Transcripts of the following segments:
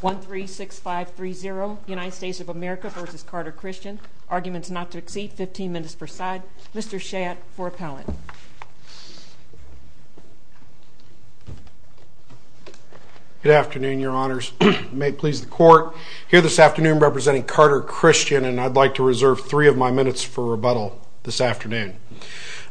1 3 6 5 3 0 United States of America v. Carter Christian. Arguments not to exceed 15 minutes per side. Mr. Shad for appellate. Good afternoon your honors. May it please the court. Here this afternoon representing Carter Christian and I'd like to reserve three of my minutes for rebuttal this afternoon.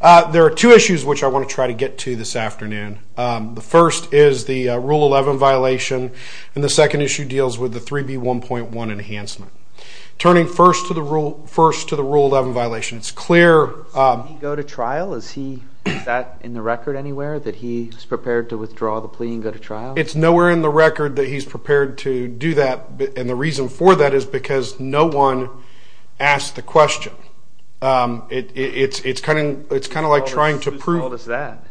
There are two issues which I want to try to get to this afternoon. The first is the Rule 11 violation and the second issue deals with the 3B 1.1 enhancement. Turning first to the Rule 11 violation. It's clear. Did he go to trial? Is that in the record anywhere that he's prepared to withdraw the plea and go to trial? It's nowhere in the record that he's prepared to do that. And the reason for that is because no one asked the question. It's kind of like trying to prove that.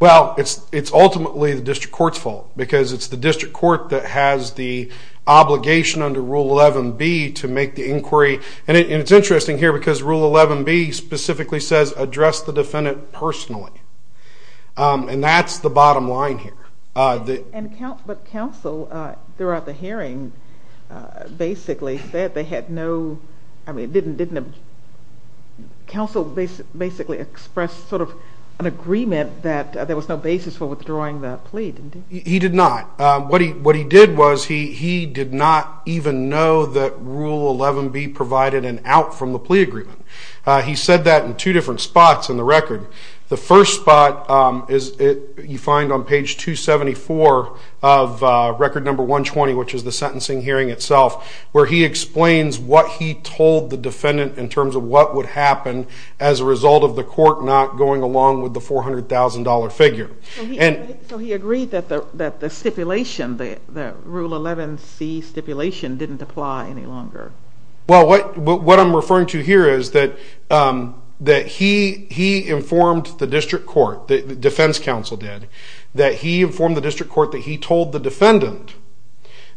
Well, it's ultimately the district court's fault because it's the district court that has the obligation under Rule 11B to make the inquiry. And it's interesting here because Rule 11B specifically says address the defendant personally. And that's the bottom line here. But counsel throughout the hearing basically said they had no, I mean didn't counsel basically express sort of an agreement that there was no basis for withdrawing the plea? He did not. What he did was he did not even know that Rule 11B provided an out from the plea agreement. He said that in two different spots in the record. The first spot is you find on page 274 of record number 120 which is the sentencing hearing itself where he explains what he told the defendant in terms of what would happen as a result of the court not going along with the $400,000 figure. So he agreed that the stipulation, the Rule 11C stipulation didn't apply any longer? Well, what I'm referring to here is that he informed the district court, the defense counsel did, that he informed the district court that he told the defendant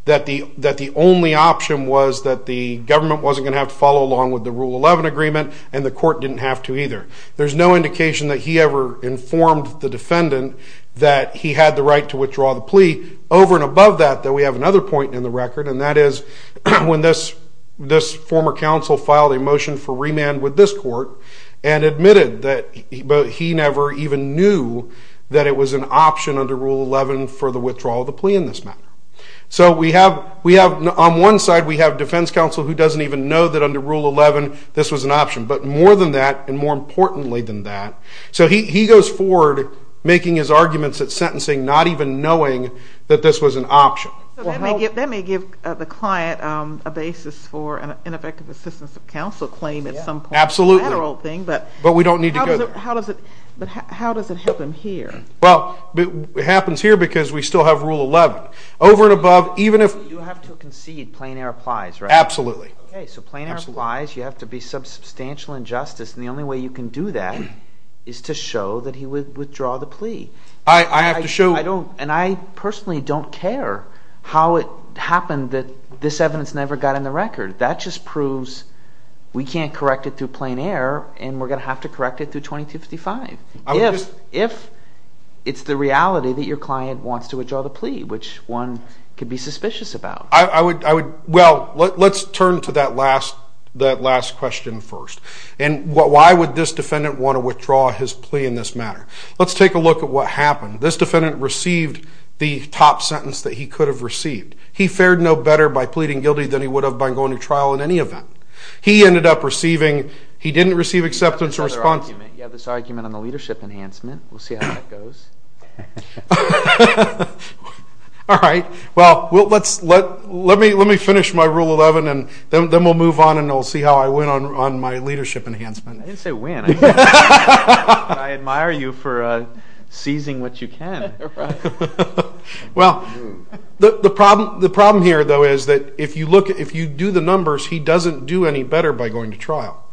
that the only option was that the government wasn't going to have to follow along with the Rule 11 agreement and the court didn't have to either. There's no indication that he ever informed the defendant that he had the right to withdraw the plea. Over and above that we have another point in the record and that is when this former counsel filed a motion for remand with this court and admitted that he never even knew that it was an option under Rule 11 for the withdrawal of the plea in this matter. So on one side we have defense counsel who doesn't even know that under Rule 11 this was an option. But more than that and more importantly than that, so he goes forward making his arguments at sentencing not even knowing that this was an option. That may give the client a basis for an ineffective assistance of counsel claim at some point. Absolutely. But how does it happen here? Well, it happens here because we still have Rule 11. Over and above even if... You have to concede plain air applies, right? Absolutely. Okay, so plain air applies. You have to be substantial injustice and the only way you can do that is to show that he would withdraw the plea. I have to show... And I personally don't care how it happened that this evidence never got in the record. That just proves we can't correct it through plain air and we're going to have to correct it through 2255. If it's the reality that your client wants to withdraw the plea, which one could be suspicious about. Well, let's turn to that last question first. And why would this defendant want to withdraw his plea in this matter? Let's take a look at what happened. This defendant received the top sentence that he could have received. He fared no better by pleading guilty than he would have by going to trial in any event. He ended up receiving. He didn't receive acceptance or response. You have this argument on the leadership enhancement. We'll see how that goes. All right. Well, let me finish my Rule 11 and then we'll move on and we'll see how I win on my leadership enhancement. I didn't say win. I admire you for seizing what you can. Well, the problem here, though, is that if you do the numbers, he doesn't do any better by going to trial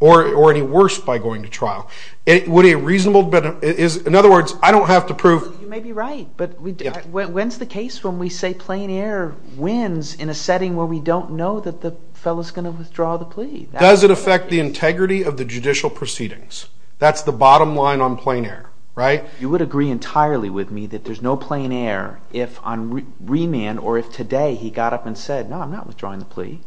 or any worse by going to trial. In other words, I don't have to prove. You may be right, but when's the case when we say plain air wins in a setting where we don't know that the fellow's going to withdraw the plea? Does it affect the integrity of the judicial proceedings? That's the bottom line on plain air, right? You would agree entirely with me that there's no plain air if on remand or if today he got up and said, no, I'm not withdrawing the plea.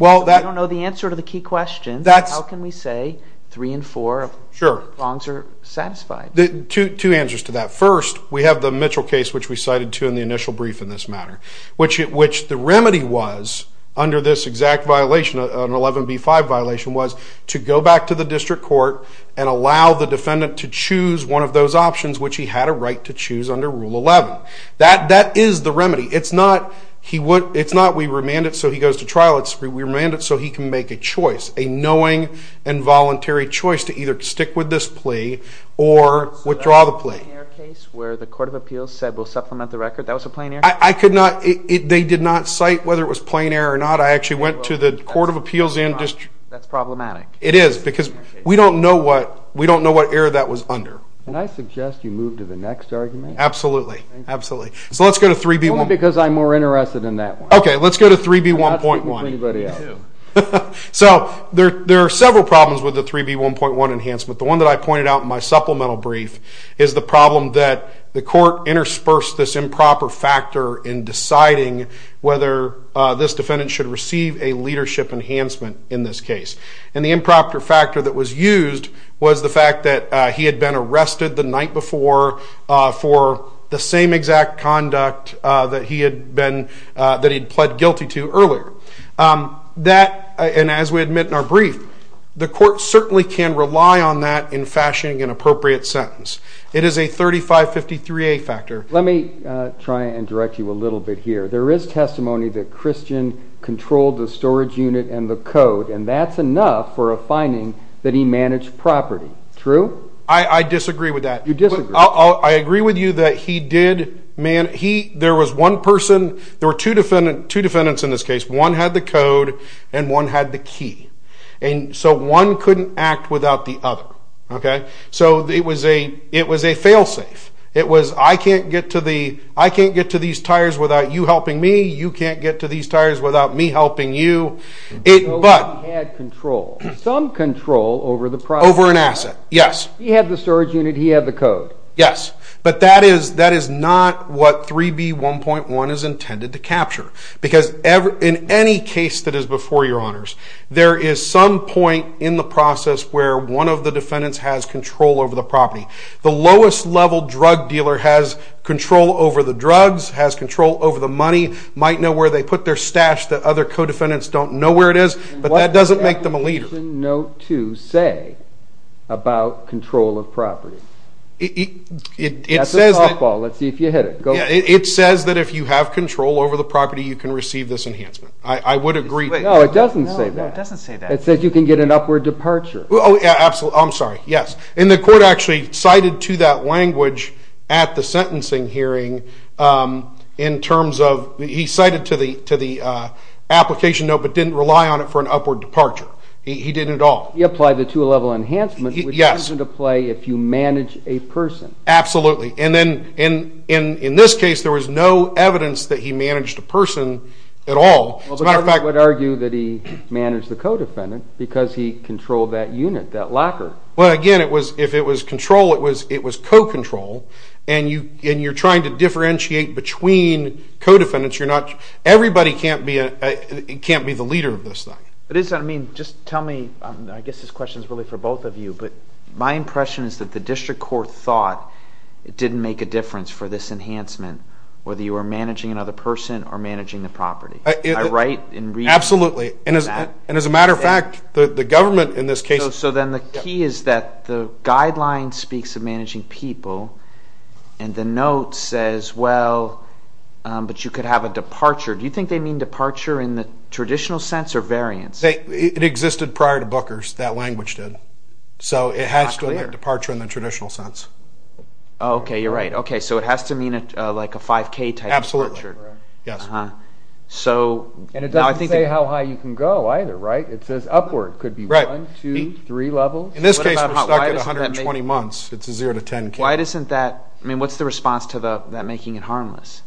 I don't know the answer to the key question. How can we say three and four of the wrongs are satisfied? Two answers to that. First, we have the Mitchell case, which we cited to in the initial brief in this matter, which the remedy was under this exact violation, an 11B5 violation, was to go back to the district court and allow the defendant to choose one of those options, which he had a right to choose under Rule 11. That is the remedy. It's not we remand it so he goes to trial. It's we remand it so he can make a choice, a knowing and voluntary choice to either stick with this plea or withdraw the plea. So that was a plain air case where the court of appeals said we'll supplement the record? That was a plain air case? I could not. They did not cite whether it was plain air or not. I actually went to the court of appeals and district. That's problematic. It is because we don't know what error that was under. Can I suggest you move to the next argument? So let's go to 3B1. Only because I'm more interested in that one. Okay, let's go to 3B1.1. I'm not speaking for anybody else. So there are several problems with the 3B1.1 enhancement. The one that I pointed out in my supplemental brief is the problem that the court interspersed this improper factor in deciding whether this defendant should receive a leadership enhancement in this case. And the improper factor that was used was the fact that he had been arrested the night before for the same exact conduct that he had pled guilty to earlier. That, and as we admit in our brief, the court certainly can rely on that in fashioning an appropriate sentence. It is a 3553A factor. Let me try and direct you a little bit here. There is testimony that Christian controlled the storage unit and the code, and that's enough for a finding that he managed property. True? I disagree with that. You disagree? I agree with you that he did. There was one person. There were two defendants in this case. One had the code, and one had the key. And so one couldn't act without the other. Okay? So it was a fail-safe. It was, I can't get to these tires without you helping me. You can't get to these tires without me helping you. So he had control. Some control over the property. Over an asset, yes. He had the storage unit. He had the code. Yes. But that is not what 3B1.1 is intended to capture. Because in any case that is before your honors, there is some point in the process where one of the defendants has control over the property. The lowest-level drug dealer has control over the drugs, has control over the money, might know where they put their stash that other co-defendants don't know where it is, but that doesn't make them a leader. What does Section Note 2 say about control of property? That's a softball. Let's see if you hit it. It says that if you have control over the property, you can receive this enhancement. I would agree. No, it doesn't say that. No, it doesn't say that. It says you can get an upward departure. Oh, yeah, absolutely. I'm sorry. Yes. And the court actually cited to that language at the sentencing hearing in terms of he cited to the application note but didn't rely on it for an upward departure. He didn't at all. He applied the two-level enhancement, which comes into play if you manage a person. Absolutely. And then in this case, there was no evidence that he managed a person at all. As a matter of fact— But the government would argue that he managed the co-defendant because he controlled that unit, that locker. Well, again, if it was control, it was co-control, and you're trying to differentiate between co-defendants. Everybody can't be the leader of this thing. I guess this question is really for both of you, but my impression is that the district court thought it didn't make a difference for this enhancement, whether you were managing another person or managing the property. Am I right in reading that? Absolutely. And as a matter of fact, the government in this case— So then the key is that the guideline speaks of managing people, and the note says, well, but you could have a departure. Do you think they mean departure in the traditional sense or variance? It existed prior to Booker's. That language did. So it has to mean departure in the traditional sense. Okay, you're right. Okay, so it has to mean like a 5K type of departure. Absolutely. Yes. And it doesn't say how high you can go either, right? It says upward. Upward could be 1, 2, 3 levels. In this case, we're stuck at 120 months. It's a 0 to 10 case. Why doesn't that—I mean, what's the response to that making it harmless?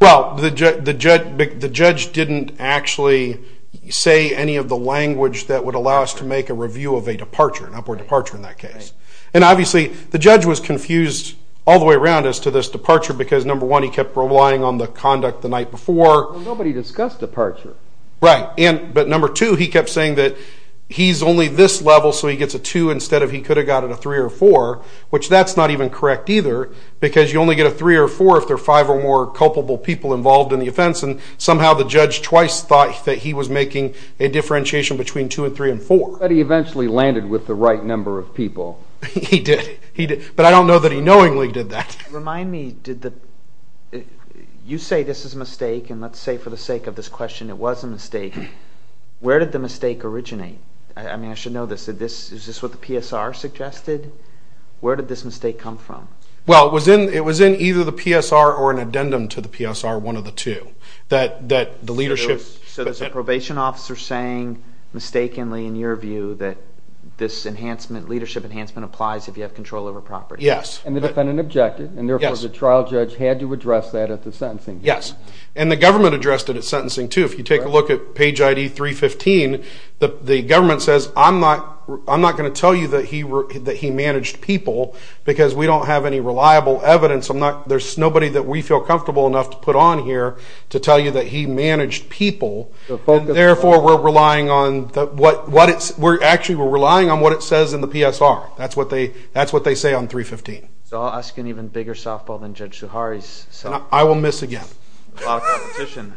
Well, the judge didn't actually say any of the language that would allow us to make a review of a departure, an upward departure in that case. And obviously the judge was confused all the way around as to this departure because, number one, he kept relying on the conduct the night before. Nobody discussed departure. Right. But, number two, he kept saying that he's only this level so he gets a 2 instead of he could have gotten a 3 or a 4, which that's not even correct either because you only get a 3 or a 4 if there are five or more culpable people involved in the offense. And somehow the judge twice thought that he was making a differentiation between 2 and 3 and 4. But he eventually landed with the right number of people. He did. But I don't know that he knowingly did that. Remind me, did the—you say this is a mistake, and let's say for the sake of this question it was a mistake. Where did the mistake originate? I mean, I should know this. Is this what the PSR suggested? Where did this mistake come from? Well, it was in either the PSR or an addendum to the PSR, one of the two, that the leadership— So there's a probation officer saying mistakenly, in your view, that this enhancement, leadership enhancement, applies if you have control over property. Yes. And the defendant objected, and therefore the trial judge had to address that at the sentencing. Yes. And the government addressed it at sentencing, too. If you take a look at page ID 315, the government says, I'm not going to tell you that he managed people because we don't have any reliable evidence. There's nobody that we feel comfortable enough to put on here to tell you that he managed people, and therefore we're relying on what it says in the PSR. That's what they say on 315. So I'll ask an even bigger softball than Judge Suhari's. I will miss again. A lot of competition.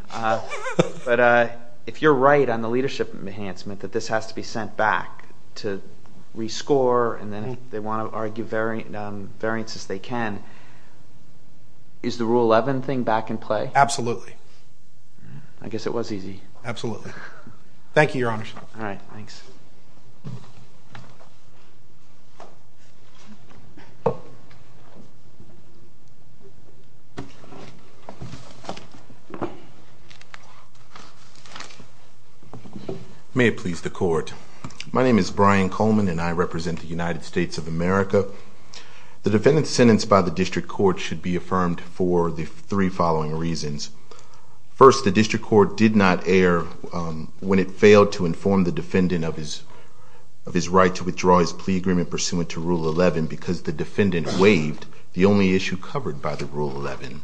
But if you're right on the leadership enhancement, that this has to be sent back to rescore, and then they want to argue variances they can, is the Rule 11 thing back in play? Absolutely. I guess it was easy. Absolutely. Thank you, Your Honor. All right. Thanks. May it please the Court. My name is Brian Coleman, and I represent the United States of America. The defendant's sentence by the district court should be affirmed for the three following reasons. First, the district court did not err when it failed to inform the defendant of his right to withdraw his plea agreement pursuant to Rule 11 because the defendant waived the only issue covered by the Rule 11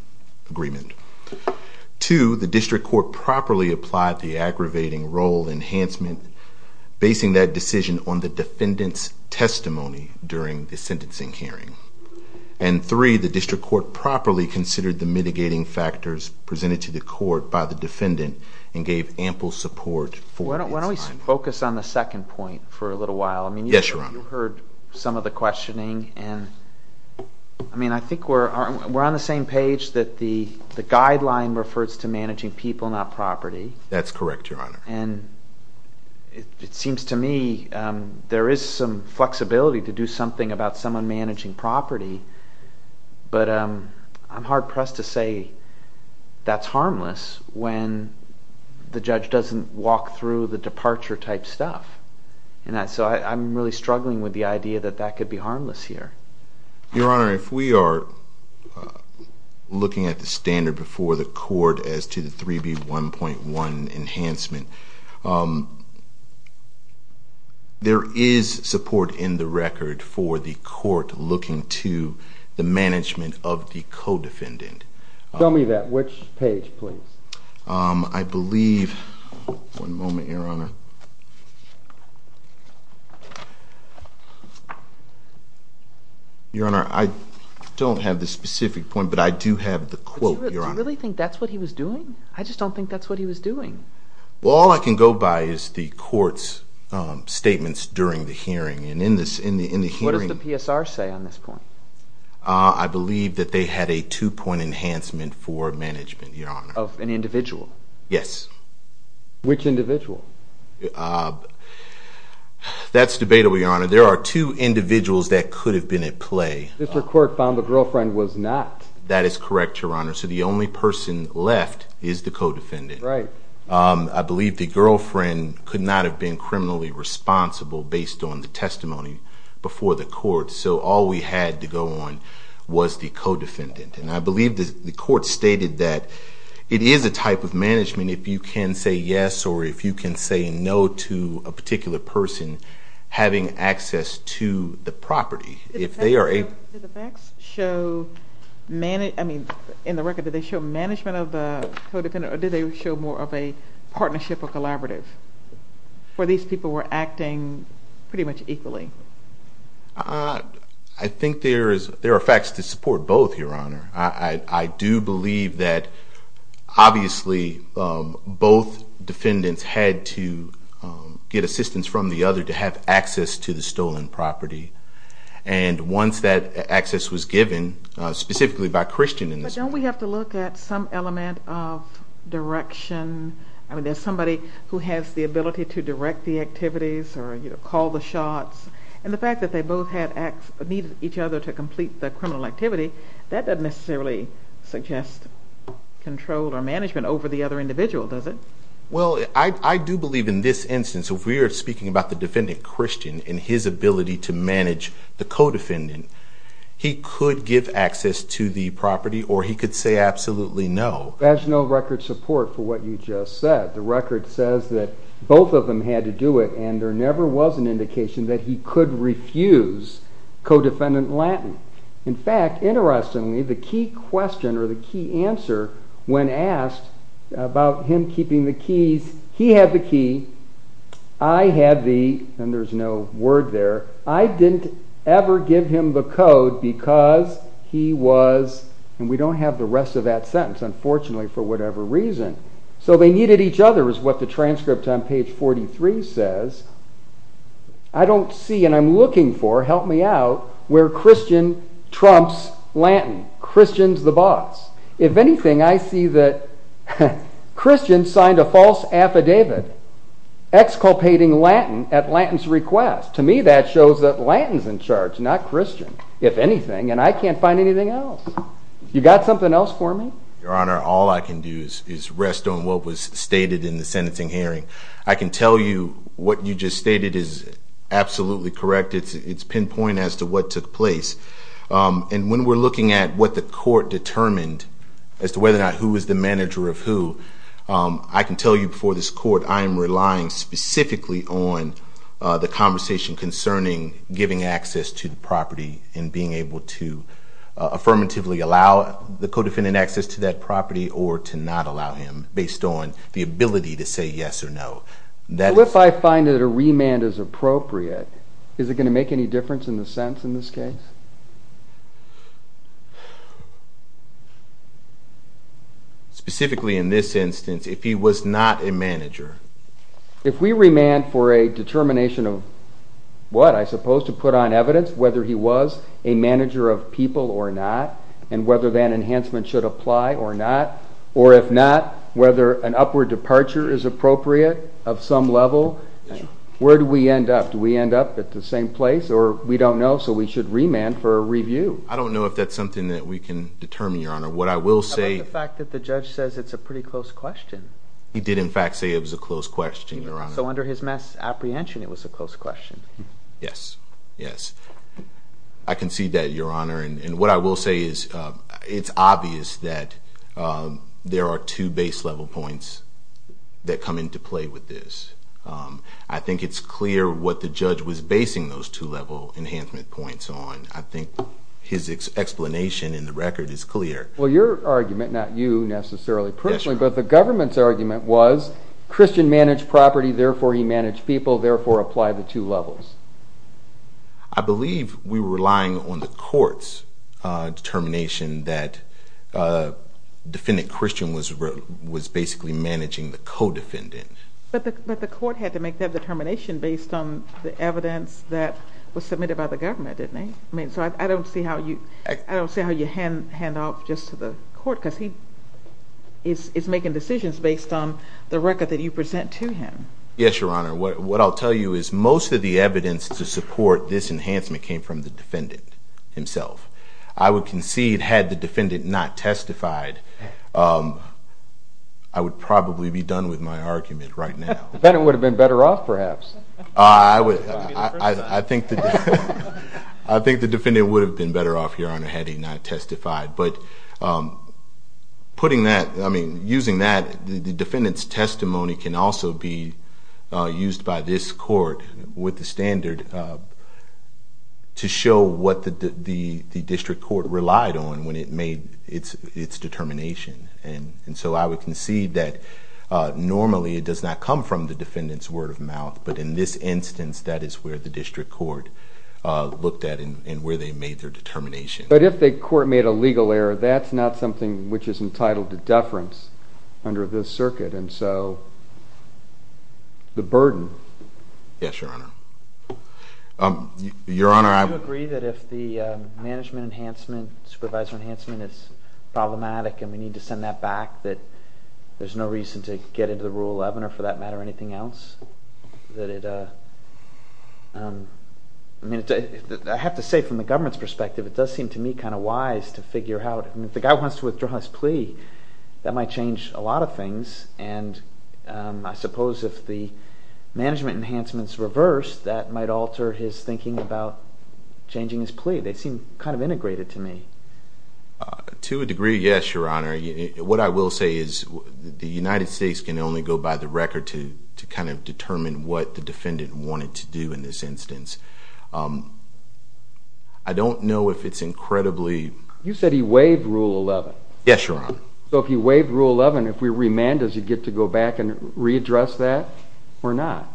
agreement. Two, the district court properly applied the aggravating role enhancement, basing that decision on the defendant's testimony during the sentencing hearing. And three, the district court properly considered the mitigating factors presented to the court by the defendant and gave ample support for... Why don't we focus on the second point for a little while? Yes, Your Honor. You heard some of the questioning, and I think we're on the same page that the guideline refers to managing people, not property. That's correct, Your Honor. And it seems to me there is some flexibility to do something about someone managing property, but I'm hard-pressed to say that's harmless when the judge doesn't walk through the departure-type stuff. So I'm really struggling with the idea that that could be harmless here. Your Honor, if we are looking at the standard before the court as to the 3B1.1 enhancement, there is support in the record for the court looking to the management of the co-defendant. I believe... one moment, Your Honor. Your Honor, I don't have the specific point, but I do have the quote, Your Honor. Do you really think that's what he was doing? I just don't think that's what he was doing. Well, all I can go by is the court's statements during the hearing, and in the hearing... What does the PSR say on this point? I believe that they had a two-point enhancement for management, Your Honor. Of an individual? Yes. Which individual? That's debatable, Your Honor. There are two individuals that could have been at play. The court found the girlfriend was not. That is correct, Your Honor. So the only person left is the co-defendant. Right. I believe the girlfriend could not have been criminally responsible based on the testimony before the court. So all we had to go on was the co-defendant. And I believe the court stated that it is a type of management if you can say yes or if you can say no to a particular person having access to the property. Did the facts show... I mean, in the record, did they show management of the co-defendant or did they show more of a partnership or collaborative where these people were acting pretty much equally? I think there are facts to support both, Your Honor. I do believe that obviously both defendants had to get assistance from the other to have access to the stolen property. And once that access was given, specifically by Christian... But don't we have to look at some element of direction? I mean, there's somebody who has the ability to direct the activities or call the shots. And the fact that they both needed each other to complete the criminal activity, that doesn't necessarily suggest control or management over the other individual, does it? Well, I do believe in this instance, if we are speaking about the defendant, Christian, and his ability to manage the co-defendant, he could give access to the property or he could say absolutely no. There's no record support for what you just said. The record says that both of them had to do it and there never was an indication that he could refuse co-defendant Lattin. In fact, interestingly, the key question or the key answer when asked about him keeping the keys, he had the key, I had the... and there's no word there... I didn't ever give him the code because he was... and we don't have the rest of that sentence, unfortunately, for whatever reason. So they needed each other is what the transcript on page 43 says. I don't see, and I'm looking for, help me out, where Christian trumps Lattin. Christian's the boss. If anything, I see that Christian signed a false affidavit exculpating Lattin at Lattin's request. To me, that shows that Lattin's in charge, not Christian, if anything, and I can't find anything else. You got something else for me? Your Honor, all I can do is rest on what was stated in the sentencing hearing. I can tell you what you just stated is absolutely correct. It's pinpoint as to what took place. And when we're looking at what the court determined as to whether or not who was the manager of who, I can tell you before this court I am relying specifically on the conversation concerning giving access to the property and being able to affirmatively allow the co-defendant access to that property or to not allow him based on the ability to say yes or no. So if I find that a remand is appropriate, is it going to make any difference in the sentence in this case? Specifically in this instance, if he was not a manager. If we remand for a determination of what? I suppose to put on evidence whether he was a manager of people or not and whether that enhancement should apply or not, or if not, whether an upward departure is appropriate of some level, where do we end up? Do we end up at the same place, or we don't know, so we should remand for a review? I don't know if that's something that we can determine, Your Honor. What I will say... How about the fact that the judge says it's a pretty close question? He did in fact say it was a close question, Your Honor. So under his mass apprehension it was a close question? Yes, yes. I concede that, Your Honor, and what I will say is it's obvious that there are two base level points that come into play with this. I think it's clear what the judge was basing those two level enhancement points on. I think his explanation in the record is clear. Well, your argument, not you necessarily personally, but the government's argument was Christian managed property, therefore he managed people, therefore apply the two levels. I believe we were relying on the court's determination that defendant Christian was basically managing the co-defendant. But the court had to make that determination based on the evidence that was submitted by the government, didn't it? So I don't see how you hand off just to the court because he is making decisions based on the record that you present to him. Yes, Your Honor. What I'll tell you is most of the evidence to support this enhancement came from the defendant himself. I would concede had the defendant not testified, I would probably be done with my argument right now. The defendant would have been better off perhaps. I think the defendant would have been better off, Your Honor, had he not testified. But using that, the defendant's testimony can also be used by this court with the standard to show what the district court relied on when it made its determination. And so I would concede that normally it does not come from the defendant's word of mouth, but in this instance that is where the district court looked at and where they made their determination. But if the court made a legal error, that's not something which is entitled to deference under this circuit. And so the burden... Yes, Your Honor. Your Honor, I... Do you agree that if the management enhancement, supervisor enhancement is problematic and we need to send that back, that there's no reason to get into the Rule 11 or for that matter anything else? I have to say from the government's perspective, it does seem to me kind of wise to figure out, if the guy wants to withdraw his plea, that might change a lot of things. And I suppose if the management enhancement is reversed, that might alter his thinking about changing his plea. They seem kind of integrated to me. To a degree, yes, Your Honor. What I will say is the United States can only go by the record to kind of determine what the defendant wanted to do in this instance. I don't know if it's incredibly... You said he waived Rule 11. Yes, Your Honor. So if he waived Rule 11, if we remand, does he get to go back and readdress that or not?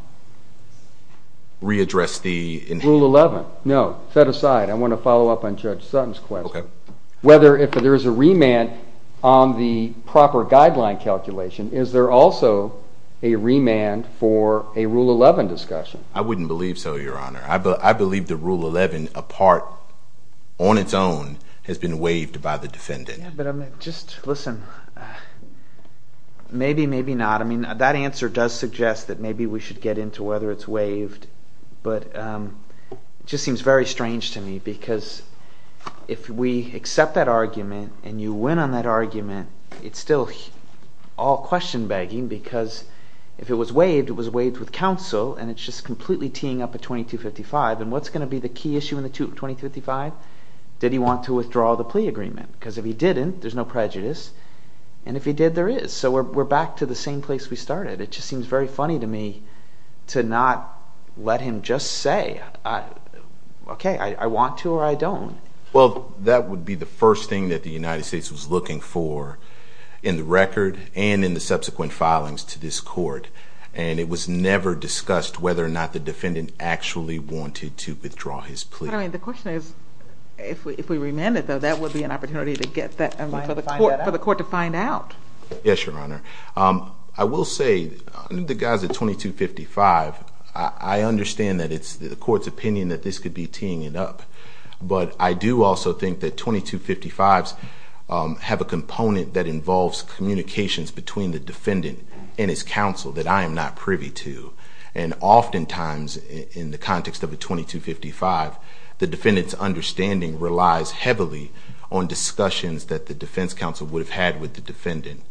Readdress the... Rule 11. No, set aside. I want to follow up on Judge Sutton's question. Okay. Whether if there's a remand on the proper guideline calculation, is there also a remand for a Rule 11 discussion? I wouldn't believe so, Your Honor. I believe the Rule 11, a part on its own, has been waived by the defendant. But just listen. Maybe, maybe not. I mean that answer does suggest that maybe we should get into whether it's waived. But it just seems very strange to me because if we accept that argument and you win on that argument, it's still all question-begging because if it was waived, it was waived with counsel. And it's just completely teeing up a 2255. And what's going to be the key issue in the 2255? Did he want to withdraw the plea agreement? Because if he didn't, there's no prejudice. And if he did, there is. So we're back to the same place we started. It just seems very funny to me to not let him just say, okay, I want to or I don't. Well, that would be the first thing that the United States was looking for in the record and in the subsequent filings to this court. And it was never discussed whether or not the defendant actually wanted to withdraw his plea. Your Honor, the question is if we remanded, though, that would be an opportunity for the court to find out. Yes, Your Honor. I will say the guys at 2255, I understand that it's the court's opinion that this could be teeing it up. But I do also think that 2255s have a component that involves communications between the defendant and his counsel that I am not privy to. And oftentimes in the context of a 2255, the defendant's understanding relies heavily on discussions that the defense counsel would have had with the defendant.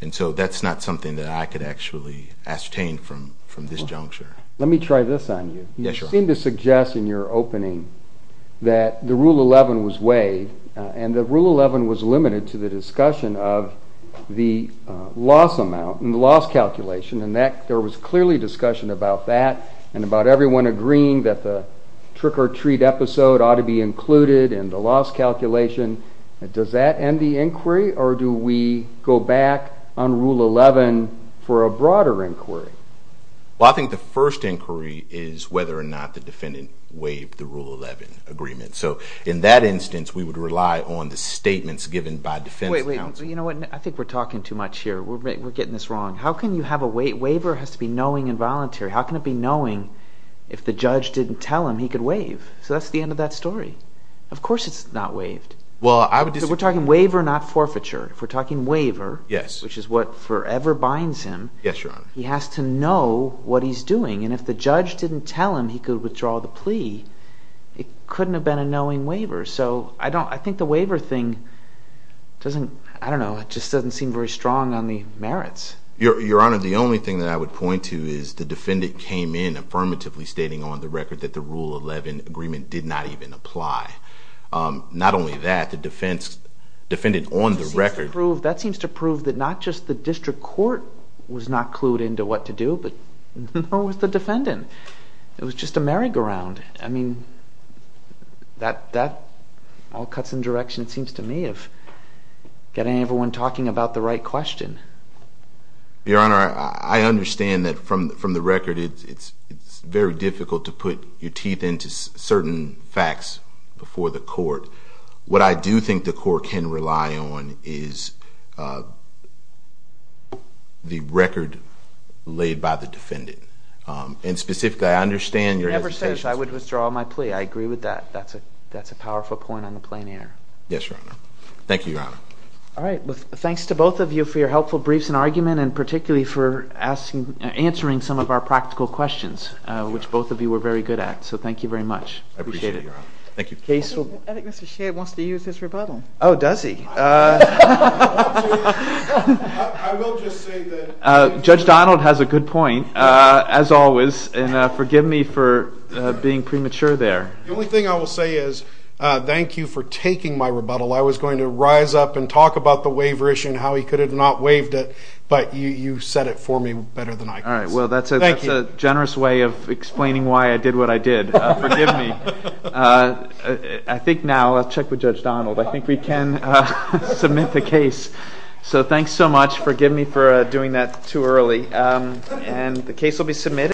And so that's not something that I could actually ascertain from this juncture. Let me try this on you. Yes, Your Honor. You seem to suggest in your opening that the Rule 11 was waived and that Rule 11 was limited to the discussion of the loss amount and the loss calculation. And there was clearly discussion about that and about everyone agreeing that the trick-or-treat episode ought to be included in the loss calculation. Does that end the inquiry, or do we go back on Rule 11 for a broader inquiry? Well, I think the first inquiry is whether or not the defendant waived the Rule 11 agreement. So in that instance, we would rely on the statements given by defense counsel. Wait, wait, you know what? I think we're talking too much here. We're getting this wrong. How can you have a waiver? Waiver has to be knowing and voluntary. How can it be knowing if the judge didn't tell him he could waive? So that's the end of that story. Of course it's not waived. So we're talking waiver, not forfeiture. If we're talking waiver, which is what forever binds him, he has to know what he's doing. And if the judge didn't tell him he could withdraw the plea, it couldn't have been a knowing waiver. So I think the waiver thing doesn't, I don't know, it just doesn't seem very strong on the merits. Your Honor, the only thing that I would point to is the defendant came in affirmatively stating on the record that the Rule 11 agreement did not even apply. Not only that, the defendant on the record. That seems to prove that not just the district court was not clued into what to do, but nor was the defendant. It was just a merry-go-round. I mean, that all cuts in direction, it seems to me, of getting everyone talking about the right question. Your Honor, I understand that from the record it's very difficult to put your teeth into certain facts before the court. What I do think the court can rely on is the record laid by the defendant. And specifically, I understand your hesitation. He never says, I would withdraw my plea. I agree with that. That's a powerful point on the plain air. Yes, Your Honor. Thank you, Your Honor. All right. Thanks to both of you for your helpful briefs and argument, and particularly for answering some of our practical questions, which both of you were very good at. So thank you very much. I appreciate it, Your Honor. Thank you. I think Mr. Shea wants to use his rebuttal. Oh, does he? I will just say that Judge Donald has a good point, as always, and forgive me for being premature there. The only thing I will say is thank you for taking my rebuttal. I was going to rise up and talk about the waiver issue and how he could have not waived it, but you set it for me better than I could. All right. Well, that's a generous way of explaining why I did what I did. Forgive me. I think now I'll check with Judge Donald. I think we can submit the case. So thanks so much. Forgive me for doing that too early. And the case will be submitted.